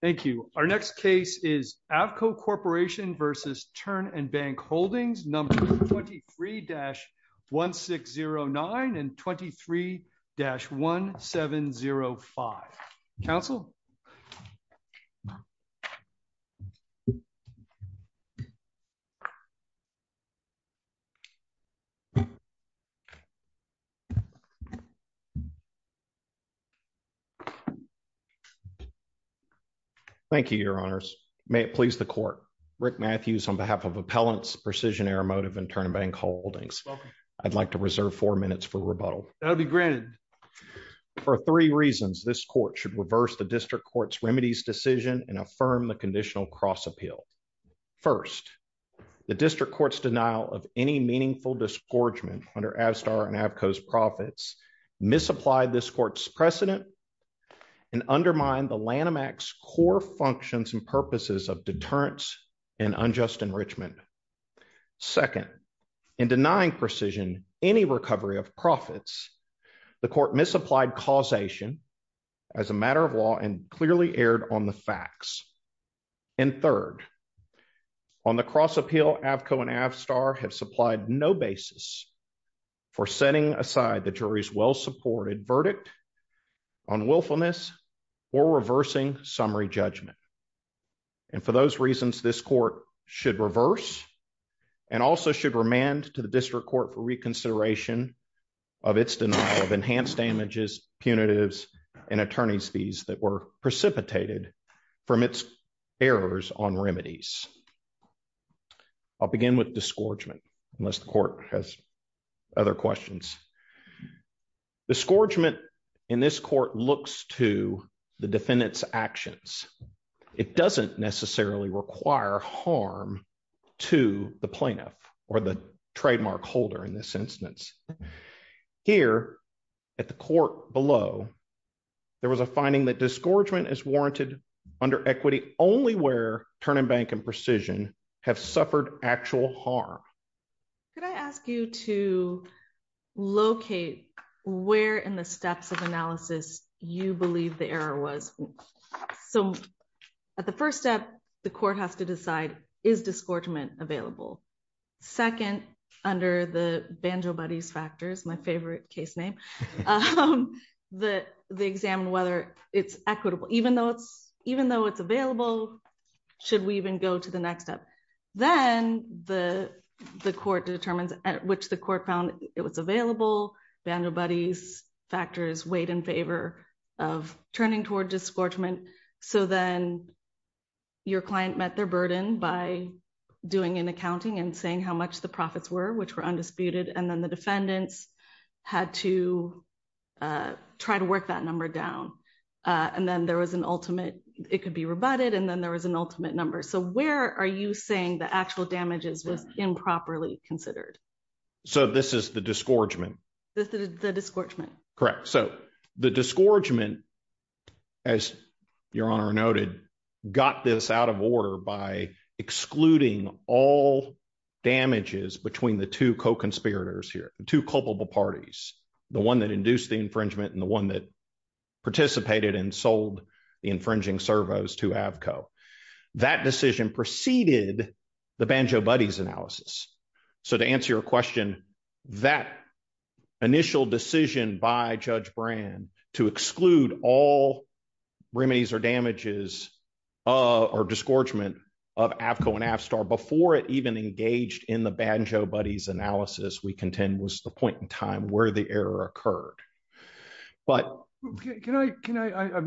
Thank you. Our next case is Avco Corporation versus Turn And Bank Holdings, number 23-1609 and 23-1705. Counsel. Thank you, Your Honors. May it please the court. Rick Matthews on behalf of Appellants, Precision Aeromotive and Turn And Bank Holdings. I'd like to reserve four minutes for rebuttal. That'll be granted. For three reasons, this court should reverse the district court's remedies decision and affirm the conditional cross appeal. First, the district court's denial of any meaningful disgorgement under Avstar and Avco's profits misapplied this court's precedent and undermined the Lanham Act's core functions and purposes of deterrence and unjust enrichment. Second, in denying Precision any recovery of profits, the court misapplied causation as a matter of law and clearly erred on the facts. And third, on the cross appeal, Avco and Avstar have supplied no basis for setting aside the jury's well-supported verdict on willfulness or reversing summary judgment. And for those reasons, this court should reverse and also should remand to the district court for reconsideration of its denial of enhanced damages, punitives and attorney's fees that were precipitated from its errors on remedies. I'll begin with disgorgement unless the court has other questions. Disgorgement in this court looks to the defendant's actions. It doesn't necessarily require harm to the plaintiff or the trademark holder in this instance. Here at the court below, there was a finding that disgorgement is warranted under equity only where Turn-and-Bank and Precision have suffered actual harm. Could I ask you to locate where in the steps of analysis you believe the error was? So at the first step, the court has to decide, is disgorgement available? Second, under the Banjo Buddies factors, my favorite case name, they examine whether it's equitable. Even though it's available, should we even go to the next step? Then the court determines at which the court found it was available. Banjo Buddies factors weighed in favor of turning toward disgorgement. So then your client met their burden by doing an accounting and saying how much the profits were, which were undisputed. And then the defendants had to try to work that number down. And then there was an ultimate, it could be rebutted and then there was an ultimate number. So where are you saying the actual damages was improperly considered? So this is the disgorgement. The disgorgement. Correct. So the disgorgement, as your honor noted, got this out of order by excluding all damages between the two co-conspirators here, the two culpable parties. The one that induced the infringement and the one that participated and sold the infringing servos to Avco. That decision preceded the Banjo Buddies analysis. So to answer your question, that initial decision by Judge Brand to exclude all remedies or damages or disgorgement of Avco and Avstar before it even engaged in the Banjo Buddies analysis we contend was the point in time where the error occurred. But- Can I,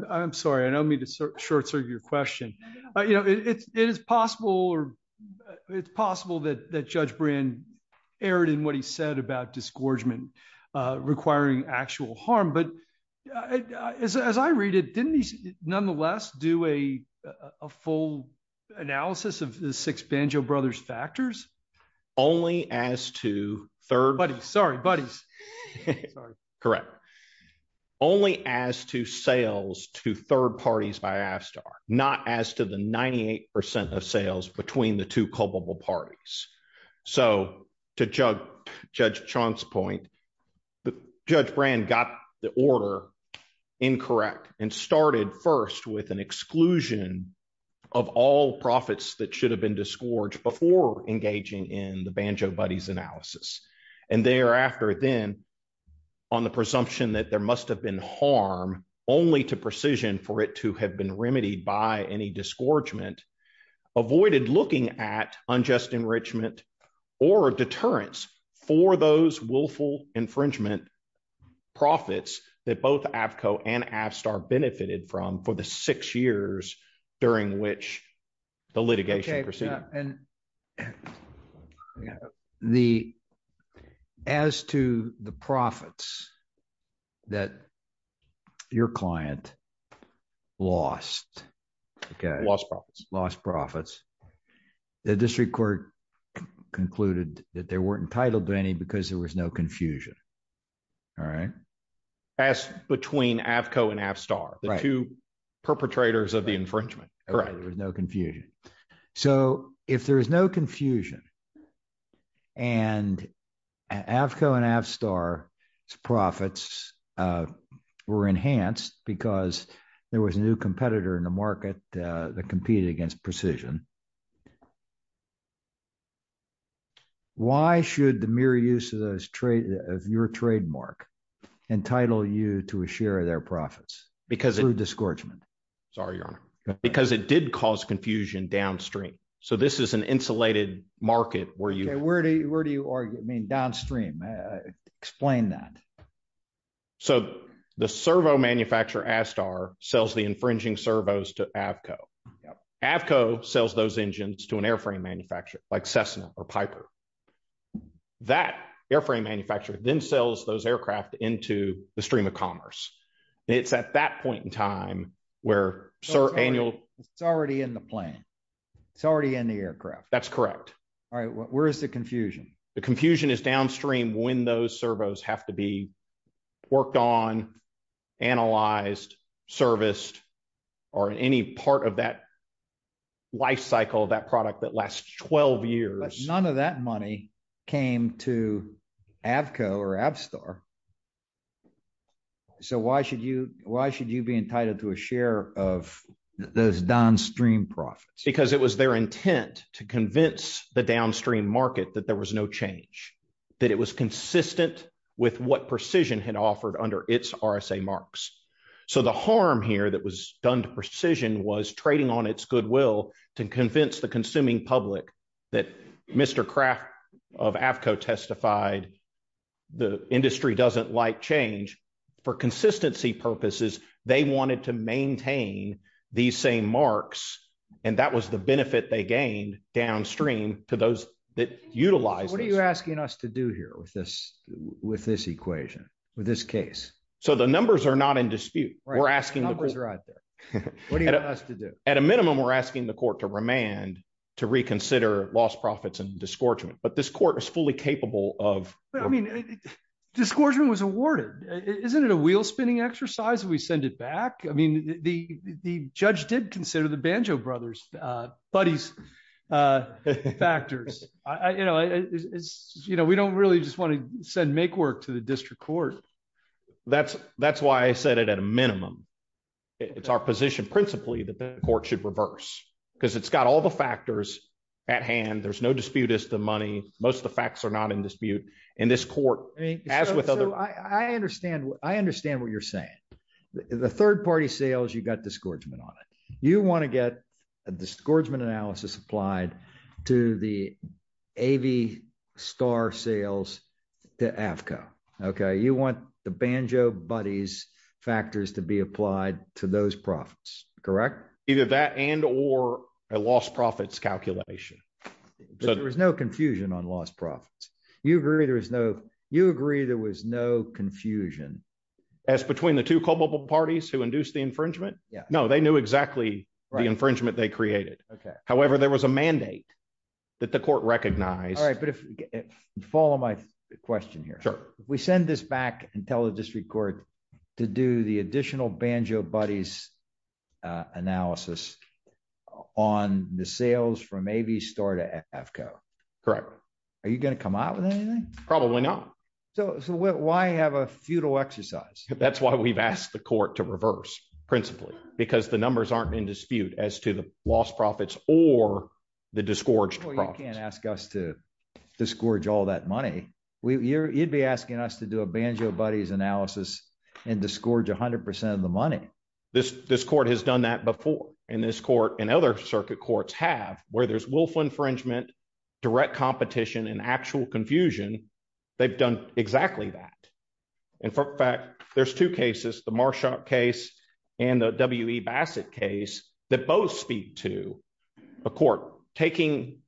I'm sorry. I don't mean to short-circuit your question. You know, it is possible or it's possible that Judge Brand erred in what he said about disgorgement requiring actual harm. But as I read it, didn't he nonetheless do a full analysis of the six Banjo Brothers factors? Only as to third- Buddies, sorry, Buddies. Sorry. Correct. Only as to sales to third parties by Avstar, not as to the 98% of sales between the two culpable parties. So to Judge Chant's point, Judge Brand got the order incorrect and started first with an exclusion of all profits that should have been disgorged before engaging in the Banjo Buddies analysis. And thereafter then on the presumption that there must have been harm only to precision for it to have been remedied by any disgorgement, avoided looking at unjust enrichment or deterrence for those willful infringement profits that both Avco and Avstar benefited from for the six years during which the litigation proceeded. And as to the profits that your client lost- Lost profits. Lost profits. The district court concluded that they weren't entitled to any because there was no confusion, all right? As between Avco and Avstar, the two perpetrators of the infringement, correct. There was no confusion. So if there is no confusion and Avco and Avstar's profits were enhanced because there was a new competitor in the market that competed against precision, why should the mere use of your trademark entitle you to a share of their profits? Because- Through disgorgement. Sorry, Your Honor. Because it did cause confusion downstream. So this is an insulated market where you- Okay, where do you mean downstream? Explain that. So the servo manufacturer, Avstar, sells the infringing servos to Avco. Avco sells those engines to an airframe manufacturer like Cessna or Piper. That airframe manufacturer then sells those aircraft into the stream of commerce. It's at that point in time where annual- It's already in the plane. It's already in the aircraft. That's correct. All right, where's the confusion? The confusion is downstream when those servos have to be worked on, analyzed, serviced, or in any part of that life cycle, that product that lasts 12 years. None of that money came to Avco or Avstar. So why should you be entitled to a share of those downstream profits? Because it was their intent to convince the downstream market that there was no change, that it was consistent with what Precision had offered under its RSA marks. So the harm here that was done to Precision was trading on its goodwill to convince the consuming public that Mr. Kraft of Avco testified the industry doesn't like change. For consistency purposes, they wanted to maintain these same marks, and that was the benefit they gained downstream to those that utilize this. What are you asking us to do here with this equation, with this case? So the numbers are not in dispute. Right, the numbers are out there. What do you want us to do? At a minimum, we're asking the court to remand to reconsider lost profits and disgorgement. But this court is fully capable of- But I mean, disgorgement was awarded. Isn't it a wheel-spinning exercise if we send it back? I mean, the judge did consider the Banjo Brothers buddies' factors. We don't really just want to send make-work to the district court. That's why I said it at a minimum. It's our position principally that the court should reverse because it's got all the factors at hand. There's no dispute as to money. Most of the facts are not in dispute. And this court, as with other- I understand what you're saying. The third-party sales, you've got disgorgement on it. You want to get a disgorgement analysis applied to the AV Star sales to AFCA, okay? You want the Banjo Buddies factors to be applied to those profits, correct? Either that and or a lost profits calculation. So there was no confusion on lost profits. You agree there was no confusion? As between the two culpable parties who induced the infringement? No, they knew exactly the infringement they created. However, there was a mandate that the court recognized. All right, but follow my question here. Sure. If we send this back and tell the district court to do the additional Banjo Buddies analysis on the sales from AV Star to AFCA. Correct. Are you going to come out with anything? Probably not. So why have a futile exercise? That's why we've asked the court to reverse principally because the numbers aren't in dispute as to the lost profits or the disgorged profits. Well, you can't ask us to disgorge all that money. You'd be asking us to do a Banjo Buddies analysis and disgorge 100% of the money. This court has done that before. And this court and other circuit courts have where there's willful infringement, direct competition and actual confusion. They've done exactly that. In fact, there's two cases, the Marshaw case and the W.E. Bassett case that both speak to a court. Taking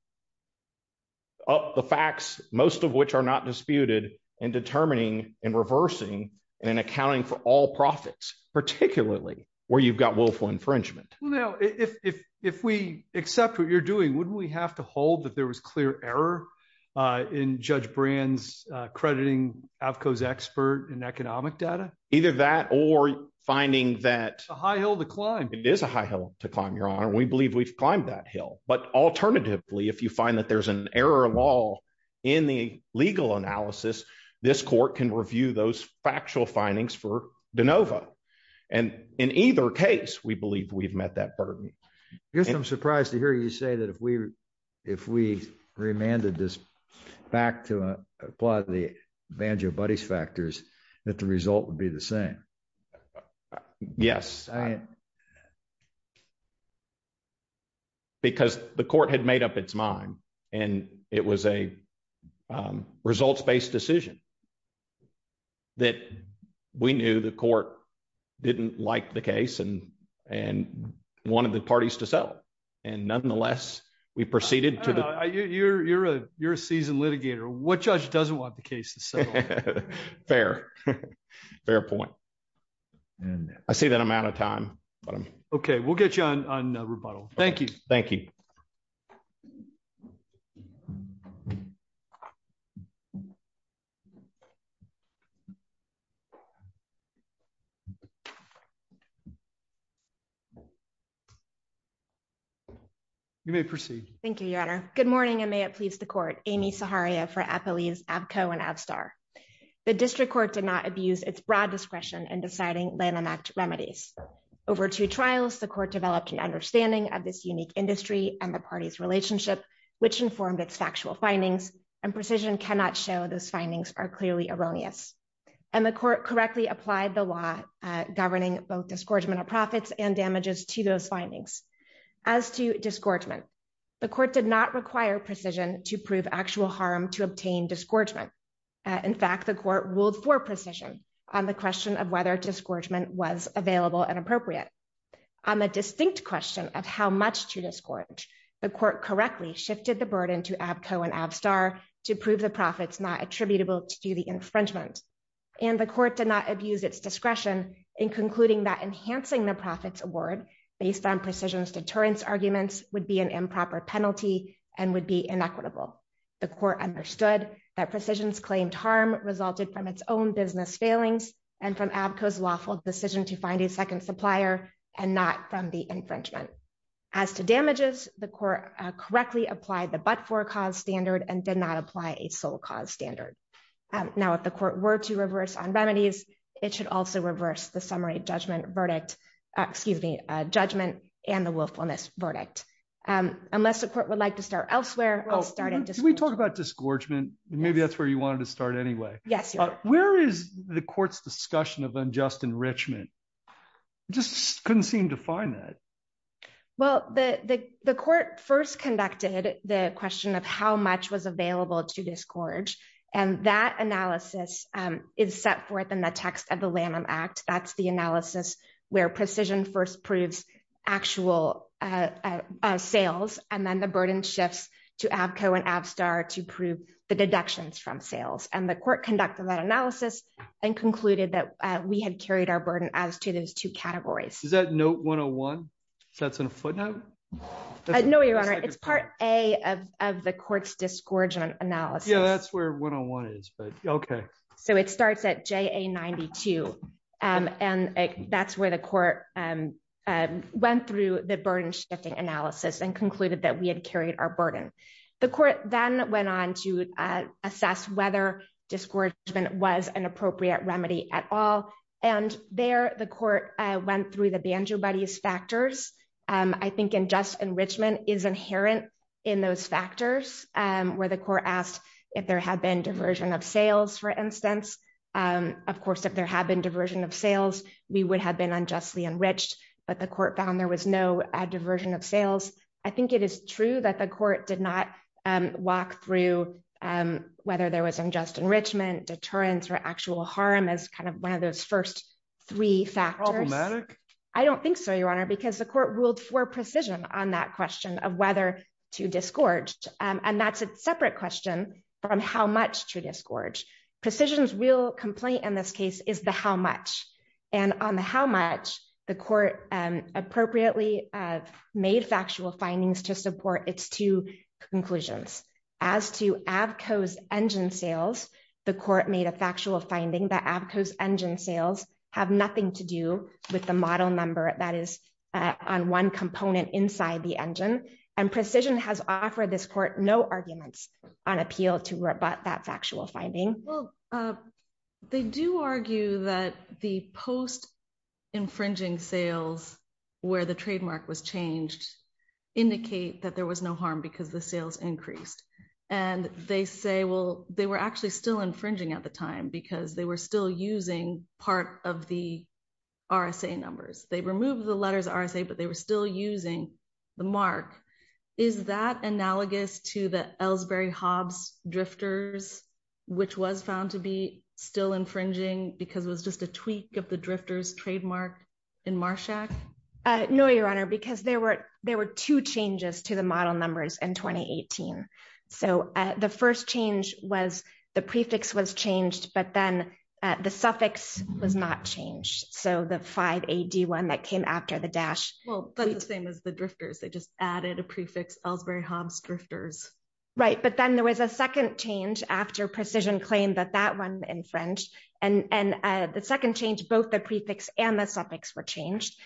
up the facts, most of which are not disputed and determining and reversing and then accounting for all profits, particularly where you've got willful infringement. Well, now, if we accept what you're doing, wouldn't we have to hold that there was clear error in Judge Brand's crediting AVCO's expert in economic data? Either that or finding that- A high hill to climb. It is a high hill to climb, Your Honor. We believe we've climbed that hill. But alternatively, if you find that there's an error law in the legal analysis, this court can review those factual findings for DeNova. And in either case, we believe we've met that burden. Yes, I'm surprised to hear you say that if we remanded this back to apply the Banjo Buddies factors that the result would be the same. Yes. I... Because the court had made up its mind and it was a results-based decision that we knew the court didn't like the case and wanted the parties to settle. And nonetheless, we proceeded to the- I don't know, you're a seasoned litigator. What judge doesn't want the case to settle? Fair. Fair point. And I see that I'm out of time, but I'm- Okay, we'll get you on rebuttal. Thank you. Thank you. You may proceed. Thank you, Your Honor. Good morning and may it please the court. Amy Zaharia for Apoleis, Avco and Avstar. The district court did not abuse its broad discretion in deciding Lanham Act remedies. Over two trials, the court developed an understanding of this unique industry and the party's relationship, which informed its factual findings and precision cannot show those findings are clearly erroneous. And the court correctly applied the law governing both disgorgement of profits and damages to those findings. As to disgorgement, the court did not require precision to prove actual harm to obtain disgorgement. In fact, the court ruled for precision on the question of whether disgorgement was available and appropriate. On the distinct question of how much to disgorge, the court correctly shifted the burden to Avco and Avstar to prove the profits not attributable to the infringement. And the court did not abuse its discretion in concluding that enhancing the profits award based on precision's deterrence arguments would be an improper penalty and would be inequitable. The court understood that precision's claimed harm resulted from its own business failings and from Avco's lawful decision to find a second supplier and not from the infringement. As to damages, the court correctly applied the but-for cause standard and did not apply a sole cause standard. Now, if the court were to reverse on remedies, it should also reverse the summary judgment verdict, excuse me, judgment and the willfulness verdict. Unless the court would like to start elsewhere, I'll start at disgorgement. Can we talk about disgorgement? Maybe that's where you wanted to start anyway. Yes, you are. Where is the court's discussion of unjust enrichment? Just couldn't seem to find that. Well, the court first conducted the question of how much was available to disgorge. And that analysis is set forth in the text of the Lanham Act. That's the analysis where precision first proves actual sales and then the burden shifts to Avco and Avstar to prove the deductions from sales. And the court conducted that analysis and concluded that we had carried our burden as to those two categories. Is that note 101? So that's in a footnote? No, Your Honor. It's part A of the court's disgorgement analysis. Yeah, that's where 101 is, but okay. So it starts at JA 92. And that's where the court went through the burden shifting analysis and concluded that we had carried our burden. The court then went on to assess whether disgorgement was an appropriate remedy at all. And there the court went through the Banjo Buddies factors. I think unjust enrichment is inherent in those factors where the court asked if there had been diversion of sales, for instance. Of course, if there had been diversion of sales, we would have been unjustly enriched, but the court found there was no diversion of sales. I think it is true that the court did not walk through whether there was unjust enrichment, deterrence, or actual harm as kind of one of those first three factors. Problematic? I don't think so, Your Honor, because the court ruled for precision on that question of whether to disgorge. And that's a separate question from how much to disgorge. Precision's real complaint in this case is the how much. And on the how much, the court appropriately made factual findings to support its two conclusions. As to Avco's engine sales, the court made a factual finding that Avco's engine sales have nothing to do with the model number that is on one component inside the engine. And precision has offered this court no arguments on appeal to rebut that factual finding. Well, they do argue that the post-infringing sales where the trademark was changed indicate that there was no harm because the sales increased. And they say, well, they were actually still infringing at the time because they were still using part of the RSA numbers. They removed the letters RSA, but they were still using the mark. Is that analogous to the Ellsbury-Hobbs drifters, which was found to be still infringing because it was just a tweak of the drifters trademark in Marshak? No, Your Honor, because there were two changes to the model numbers in 2018. So the first change was the prefix was changed, but then the suffix was not changed. So the five AD one that came after the dash. Well, that's the same as the drifters. They just added a prefix Ellsbury-Hobbs drifters. Right, but then there was a second change after Precision claimed that that one infringed. And the second change, both the prefix and the suffix were changed.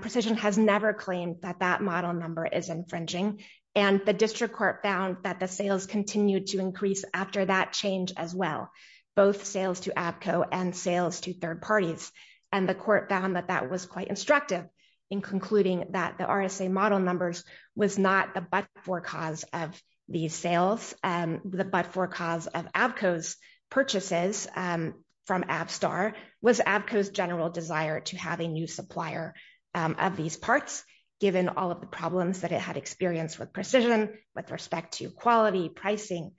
Precision has never claimed that that model number is infringing. And the district court found that the sales continued to increase after that change as well, both sales to ABCO and sales to third parties. And the court found that that was quite instructive in concluding that the RSA model numbers was not the but-for cause of these sales. The but-for cause of ABCO's purchases from Avstar was ABCO's general desire to have a new supplier of these parts, given all of the problems that it had experienced with Precision with respect to quality, pricing,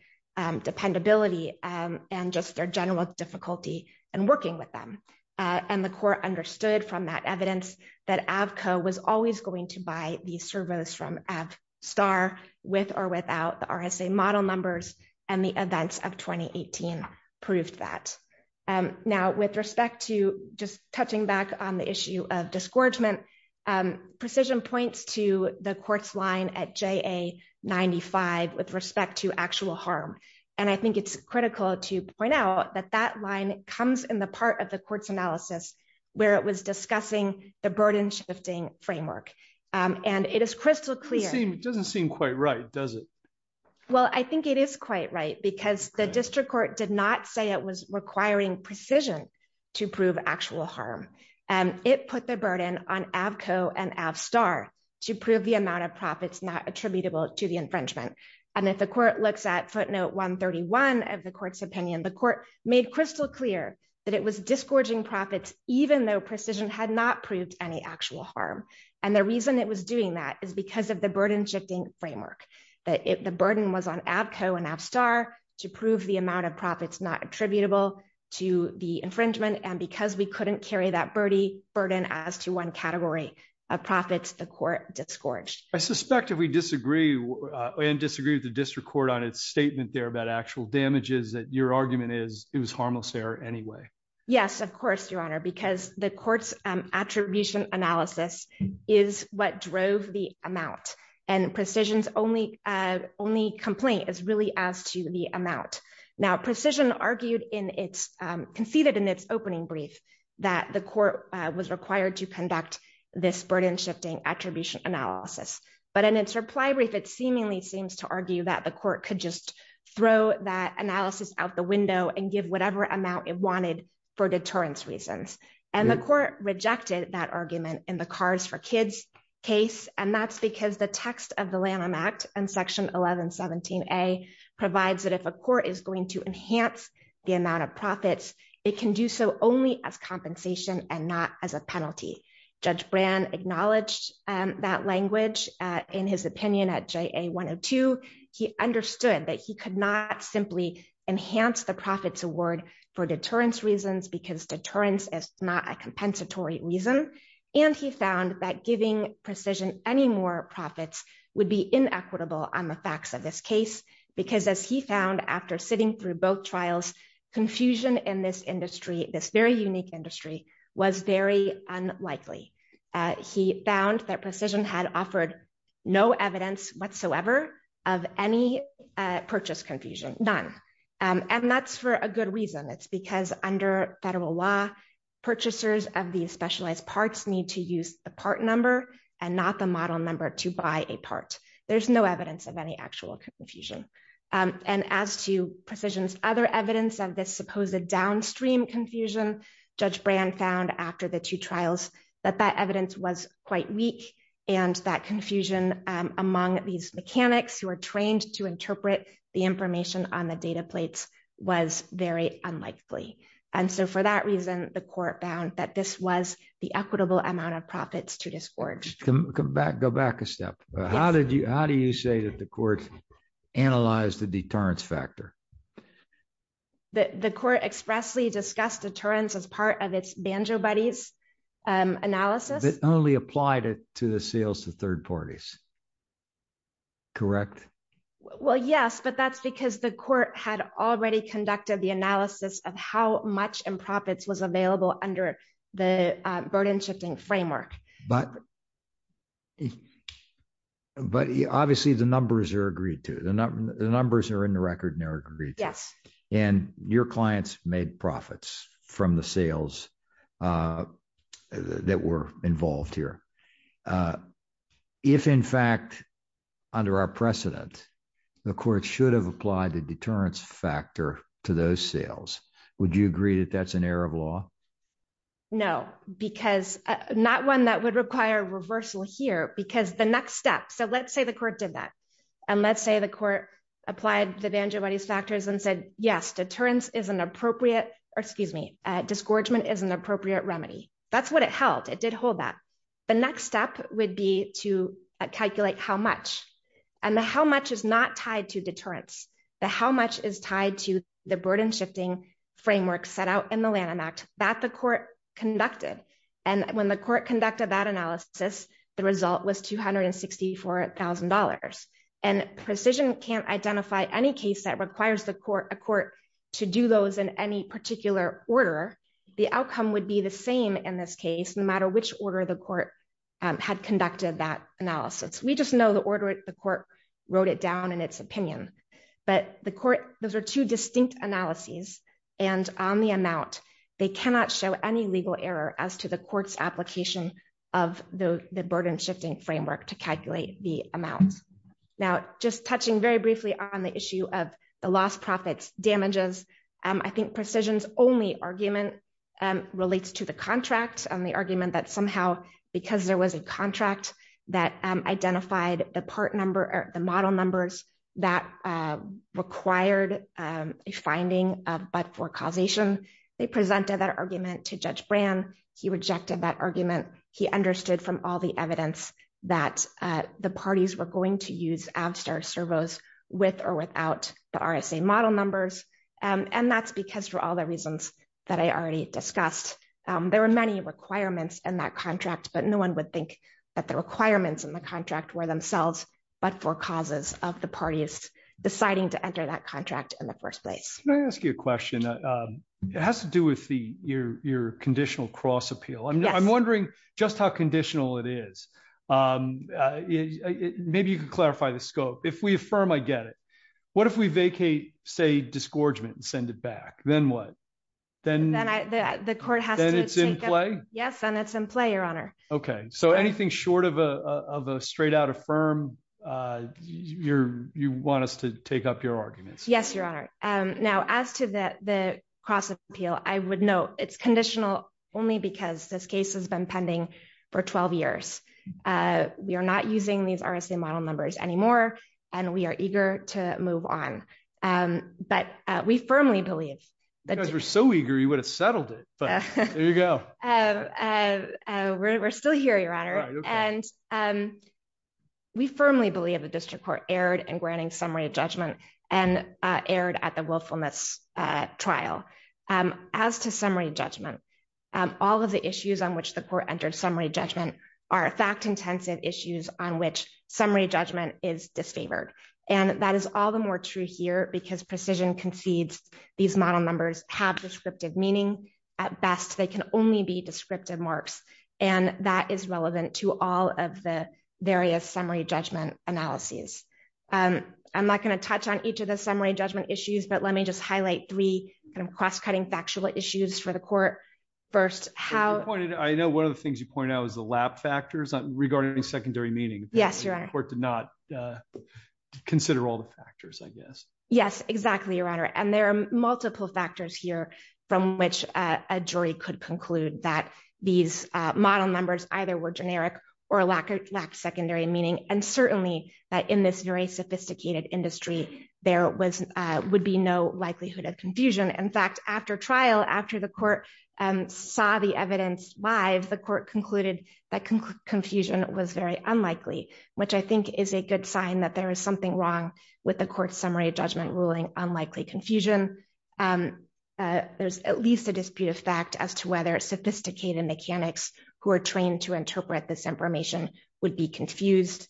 dependability, and just their general difficulty in working with them. And the court understood from that evidence that ABCO was always going to buy these servos from Avstar with or without the RSA model numbers, and the events of 2018 proved that. Now, with respect to just touching back on the issue of disgorgement, Precision points to the court's line at JA95 with respect to actual harm. And I think it's critical to point out that that line comes in the part of the court's analysis where it was discussing the burden-shifting framework. And it is crystal clear- It doesn't seem quite right, does it? Well, I think it is quite right because the district court did not say it was requiring Precision to prove actual harm. And it put the burden on ABCO and Avstar to prove the amount of profits not attributable to the infringement. And if the court looks at footnote 131 of the court's opinion, the court made crystal clear that it was disgorging profits even though Precision had not proved any actual harm. And the reason it was doing that is because of the burden-shifting framework, that the burden was on ABCO and Avstar to prove the amount of profits not attributable to the infringement. And because we couldn't carry that burden as to one category of profits, the court disgorged. I suspect if we disagree and disagree with the district court on its statement there about actual damages, that your argument is it was harmless error anyway. Yes, of course, Your Honor, because the court's attribution analysis is what drove the amount. And Precision's only complaint is really as to the amount. Now, Precision argued in its, conceded in its opening brief that the court was required to conduct this burden-shifting attribution analysis. But in its reply brief, it seemingly seems to argue that the court could just throw that analysis out the window and give whatever amount it wanted for deterrence reasons. And the court rejected that argument in the CARS for Kids case. And that's because the text of the Lanham Act and Section 1117A provides that if a court is going to enhance the amount of profits, it can do so only as compensation and not as a penalty. Judge Brand acknowledged that language in his opinion at JA-102. He understood that he could not simply enhance the profits award for deterrence reasons because deterrence is not a compensatory reason. And he found that giving Precision any more profits would be inequitable on the facts of this case, because as he found after sitting through both trials, confusion in this industry, this very unique industry, was very unlikely. He found that Precision had offered no evidence whatsoever of any purchase confusion, none. And that's for a good reason. It's because under federal law, purchasers of these specialized parts need to use the part number and not the model number to buy a part. There's no evidence of any actual confusion. And as to Precision's other evidence of this supposed downstream confusion, Judge Brand found after the two trials that that evidence was quite weak and that confusion among these mechanics who are trained to interpret the information on the data plates was very unlikely. And so for that reason, the court found that this was the equitable amount of profits to discharge. Go back a step. How do you say that the court analyzed the deterrence factor? The court expressly discussed deterrence as part of its Banjo Buddies analysis. It only applied it to the sales to third parties, correct? Well, yes, but that's because the court had already conducted the analysis of how much in profits was available under the burden shifting framework. But obviously the numbers are agreed to. The numbers are in the record and they're agreed to. And your clients made profits from the sales that were involved here. If in fact, under our precedent, the court should have applied the deterrence factor to those sales, would you agree that that's an error of law? No, because not one that would require reversal here because the next step, so let's say the court did that. And let's say the court applied the Banjo Buddies factors and said, yes, deterrence is an appropriate, or excuse me, disgorgement is an appropriate remedy. That's what it held, it did hold that. The next step would be to calculate how much. And the how much is not tied to deterrence. The how much is tied to the burden shifting framework set out in the Lanham Act that the court conducted. And when the court conducted that analysis, the result was $264,000. And precision can't identify any case that requires a court to do those in any particular order. The outcome would be the same in this case, no matter which order the court had conducted that analysis. We just know the order the court wrote it down in its opinion, but the court, those are two distinct analyses. And on the amount, they cannot show any legal error as to the court's application of the burden shifting framework to calculate the amount. Now, just touching very briefly on the issue of the lost profits damages, I think precision's only argument relates to the contract and the argument that somehow, because there was a contract that identified the part number or the model numbers that required a finding but for causation, they presented that argument to Judge Brand. He rejected that argument. He understood from all the evidence that the parties were going to use Avstar servos with or without the RSA model numbers. And that's because for all the reasons that I already discussed, there were many requirements in that contract, but no one would think that the requirements in the contract were themselves, but for causes of the parties deciding to enter that contract in the first place. Can I ask you a question? It has to do with your conditional cross appeal. I'm wondering just how conditional it is. Maybe you could clarify the scope. If we affirm, I get it. What if we vacate, say, disgorgement and send it back? Then what? Then it's in play? Yes, and it's in play, Your Honor. Okay, so anything short of a straight out affirm, you want us to take up your arguments? Yes, Your Honor. Now, as to the cross appeal, I would note it's conditional only because this case has been pending for 12 years. We are not using these RSA model numbers anymore, and we are eager to move on. But we firmly believe- You guys were so eager, you would have settled it, but there you go. We're still here, Your Honor. And we firmly believe the district court erred in granting summary judgment and erred at the willfulness trial. As to summary judgment, all of the issues on which the court entered summary judgment are fact-intensive issues on which summary judgment is disfavored. And that is all the more true here because precision concedes these model numbers have descriptive meaning. At best, they can only be descriptive marks. And that is relevant to all of the various summary judgment analyses. I'm not gonna touch on each of the summary judgment issues, but let me just highlight three kind of cross-cutting factual issues for the court. First, how- I know one of the things you pointed out was the lap factors regarding secondary meaning. Yes, Your Honor. The court did not consider all the factors, I guess. Yes, exactly, Your Honor. And there are multiple factors here from which a jury could conclude that these model numbers either were generic or lacked secondary meaning. And certainly, in this very sophisticated industry, there would be no likelihood of confusion. In fact, after trial, after the court saw the evidence live, the court concluded that confusion was very unlikely, which I think is a good sign that there is something wrong with the court's summary judgment ruling on likely confusion. There's at least a dispute of fact as to whether sophisticated mechanics who are trained to interpret this information would be confused.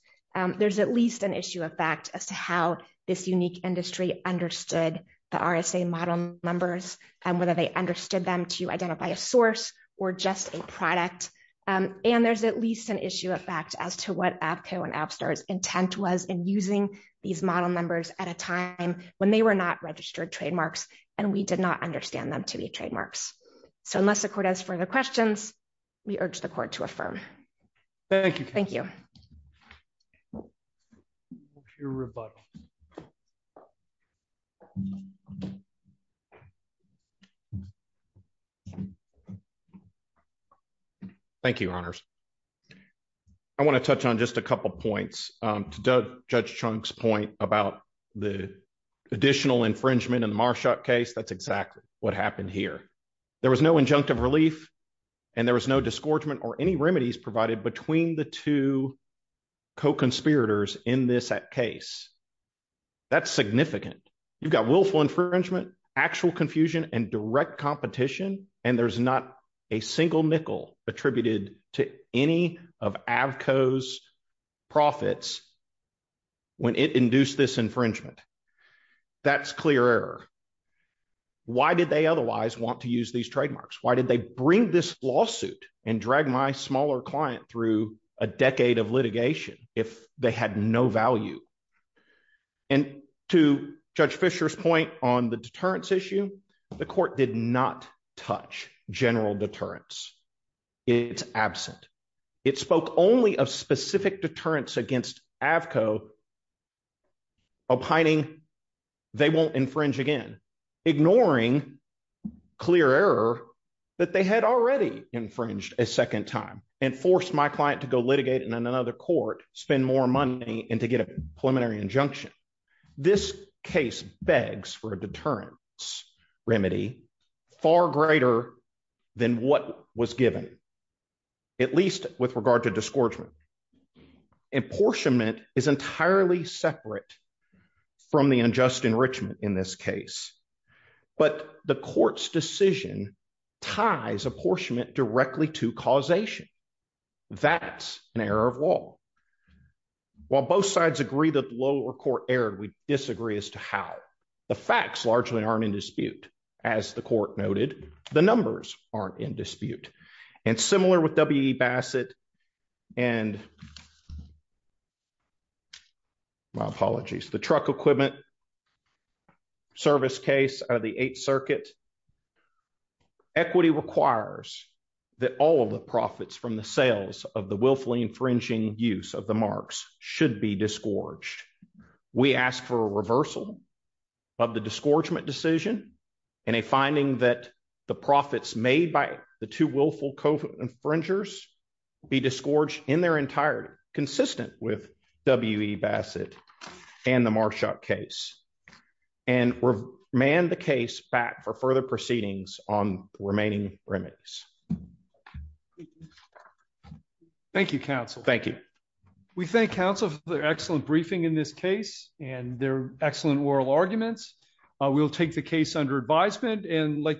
There's at least an issue of fact as to how this unique industry understood the RSA model numbers and whether they understood them to identify a source or just a product. And there's at least an issue of fact as to what Avco and AppStar's intent was in using these model numbers at a time when they were not registered trademarks and we did not understand them to be trademarks. So unless the court has further questions, we urge the court to affirm. Thank you. Thank you. Your rebuttal. Thank you. Thank you, Your Honors. I wanna touch on just a couple of points. To Judge Chunk's point about the additional infringement in the Marshak case, that's exactly what happened here. There was no injunctive relief and there was no disgorgement or any remedies provided between the two co-conspirators in this case. That's significant. You've got willful infringement, actual confusion and direct competition. And there's not a single nickel attributed to any of Avco's profits when it induced this infringement. That's clear error. Why did they otherwise want to use these trademarks? Why did they bring this lawsuit and drag my smaller client through a decade of litigation if they had no value? And to Judge Fisher's point on the deterrence issue, the court did not touch general deterrence. It's absent. It spoke only of specific deterrence against Avco opining they won't infringe again, ignoring clear error that they had already infringed a second time and forced my client to go litigate in another court, spend more money and to get a preliminary injunction. This case begs for a deterrence remedy far greater than what was given, at least with regard to disgorgement. And apportionment is entirely separate from the unjust enrichment in this case. But the court's decision ties apportionment directly to causation. That's an error of law. While both sides agree that the lower court erred, we disagree as to how. The facts largely aren't in dispute. As the court noted, the numbers aren't in dispute. And similar with W.E. Bassett and, out of the Eighth Circuit, equity requires that all of the profits from the sales of the willfully infringing use of the marks should be disgorged. We ask for a reversal of the disgorgement decision and a finding that the profits made by the two willful co-infringers be disgorged in their entirety, consistent with W.E. Bassett and the Marshok case. And remand the case back for further proceedings on the remaining remittance. Thank you, counsel. Thank you. We thank counsel for their excellent briefing in this case and their excellent oral arguments. We'll take the case under advisement and like.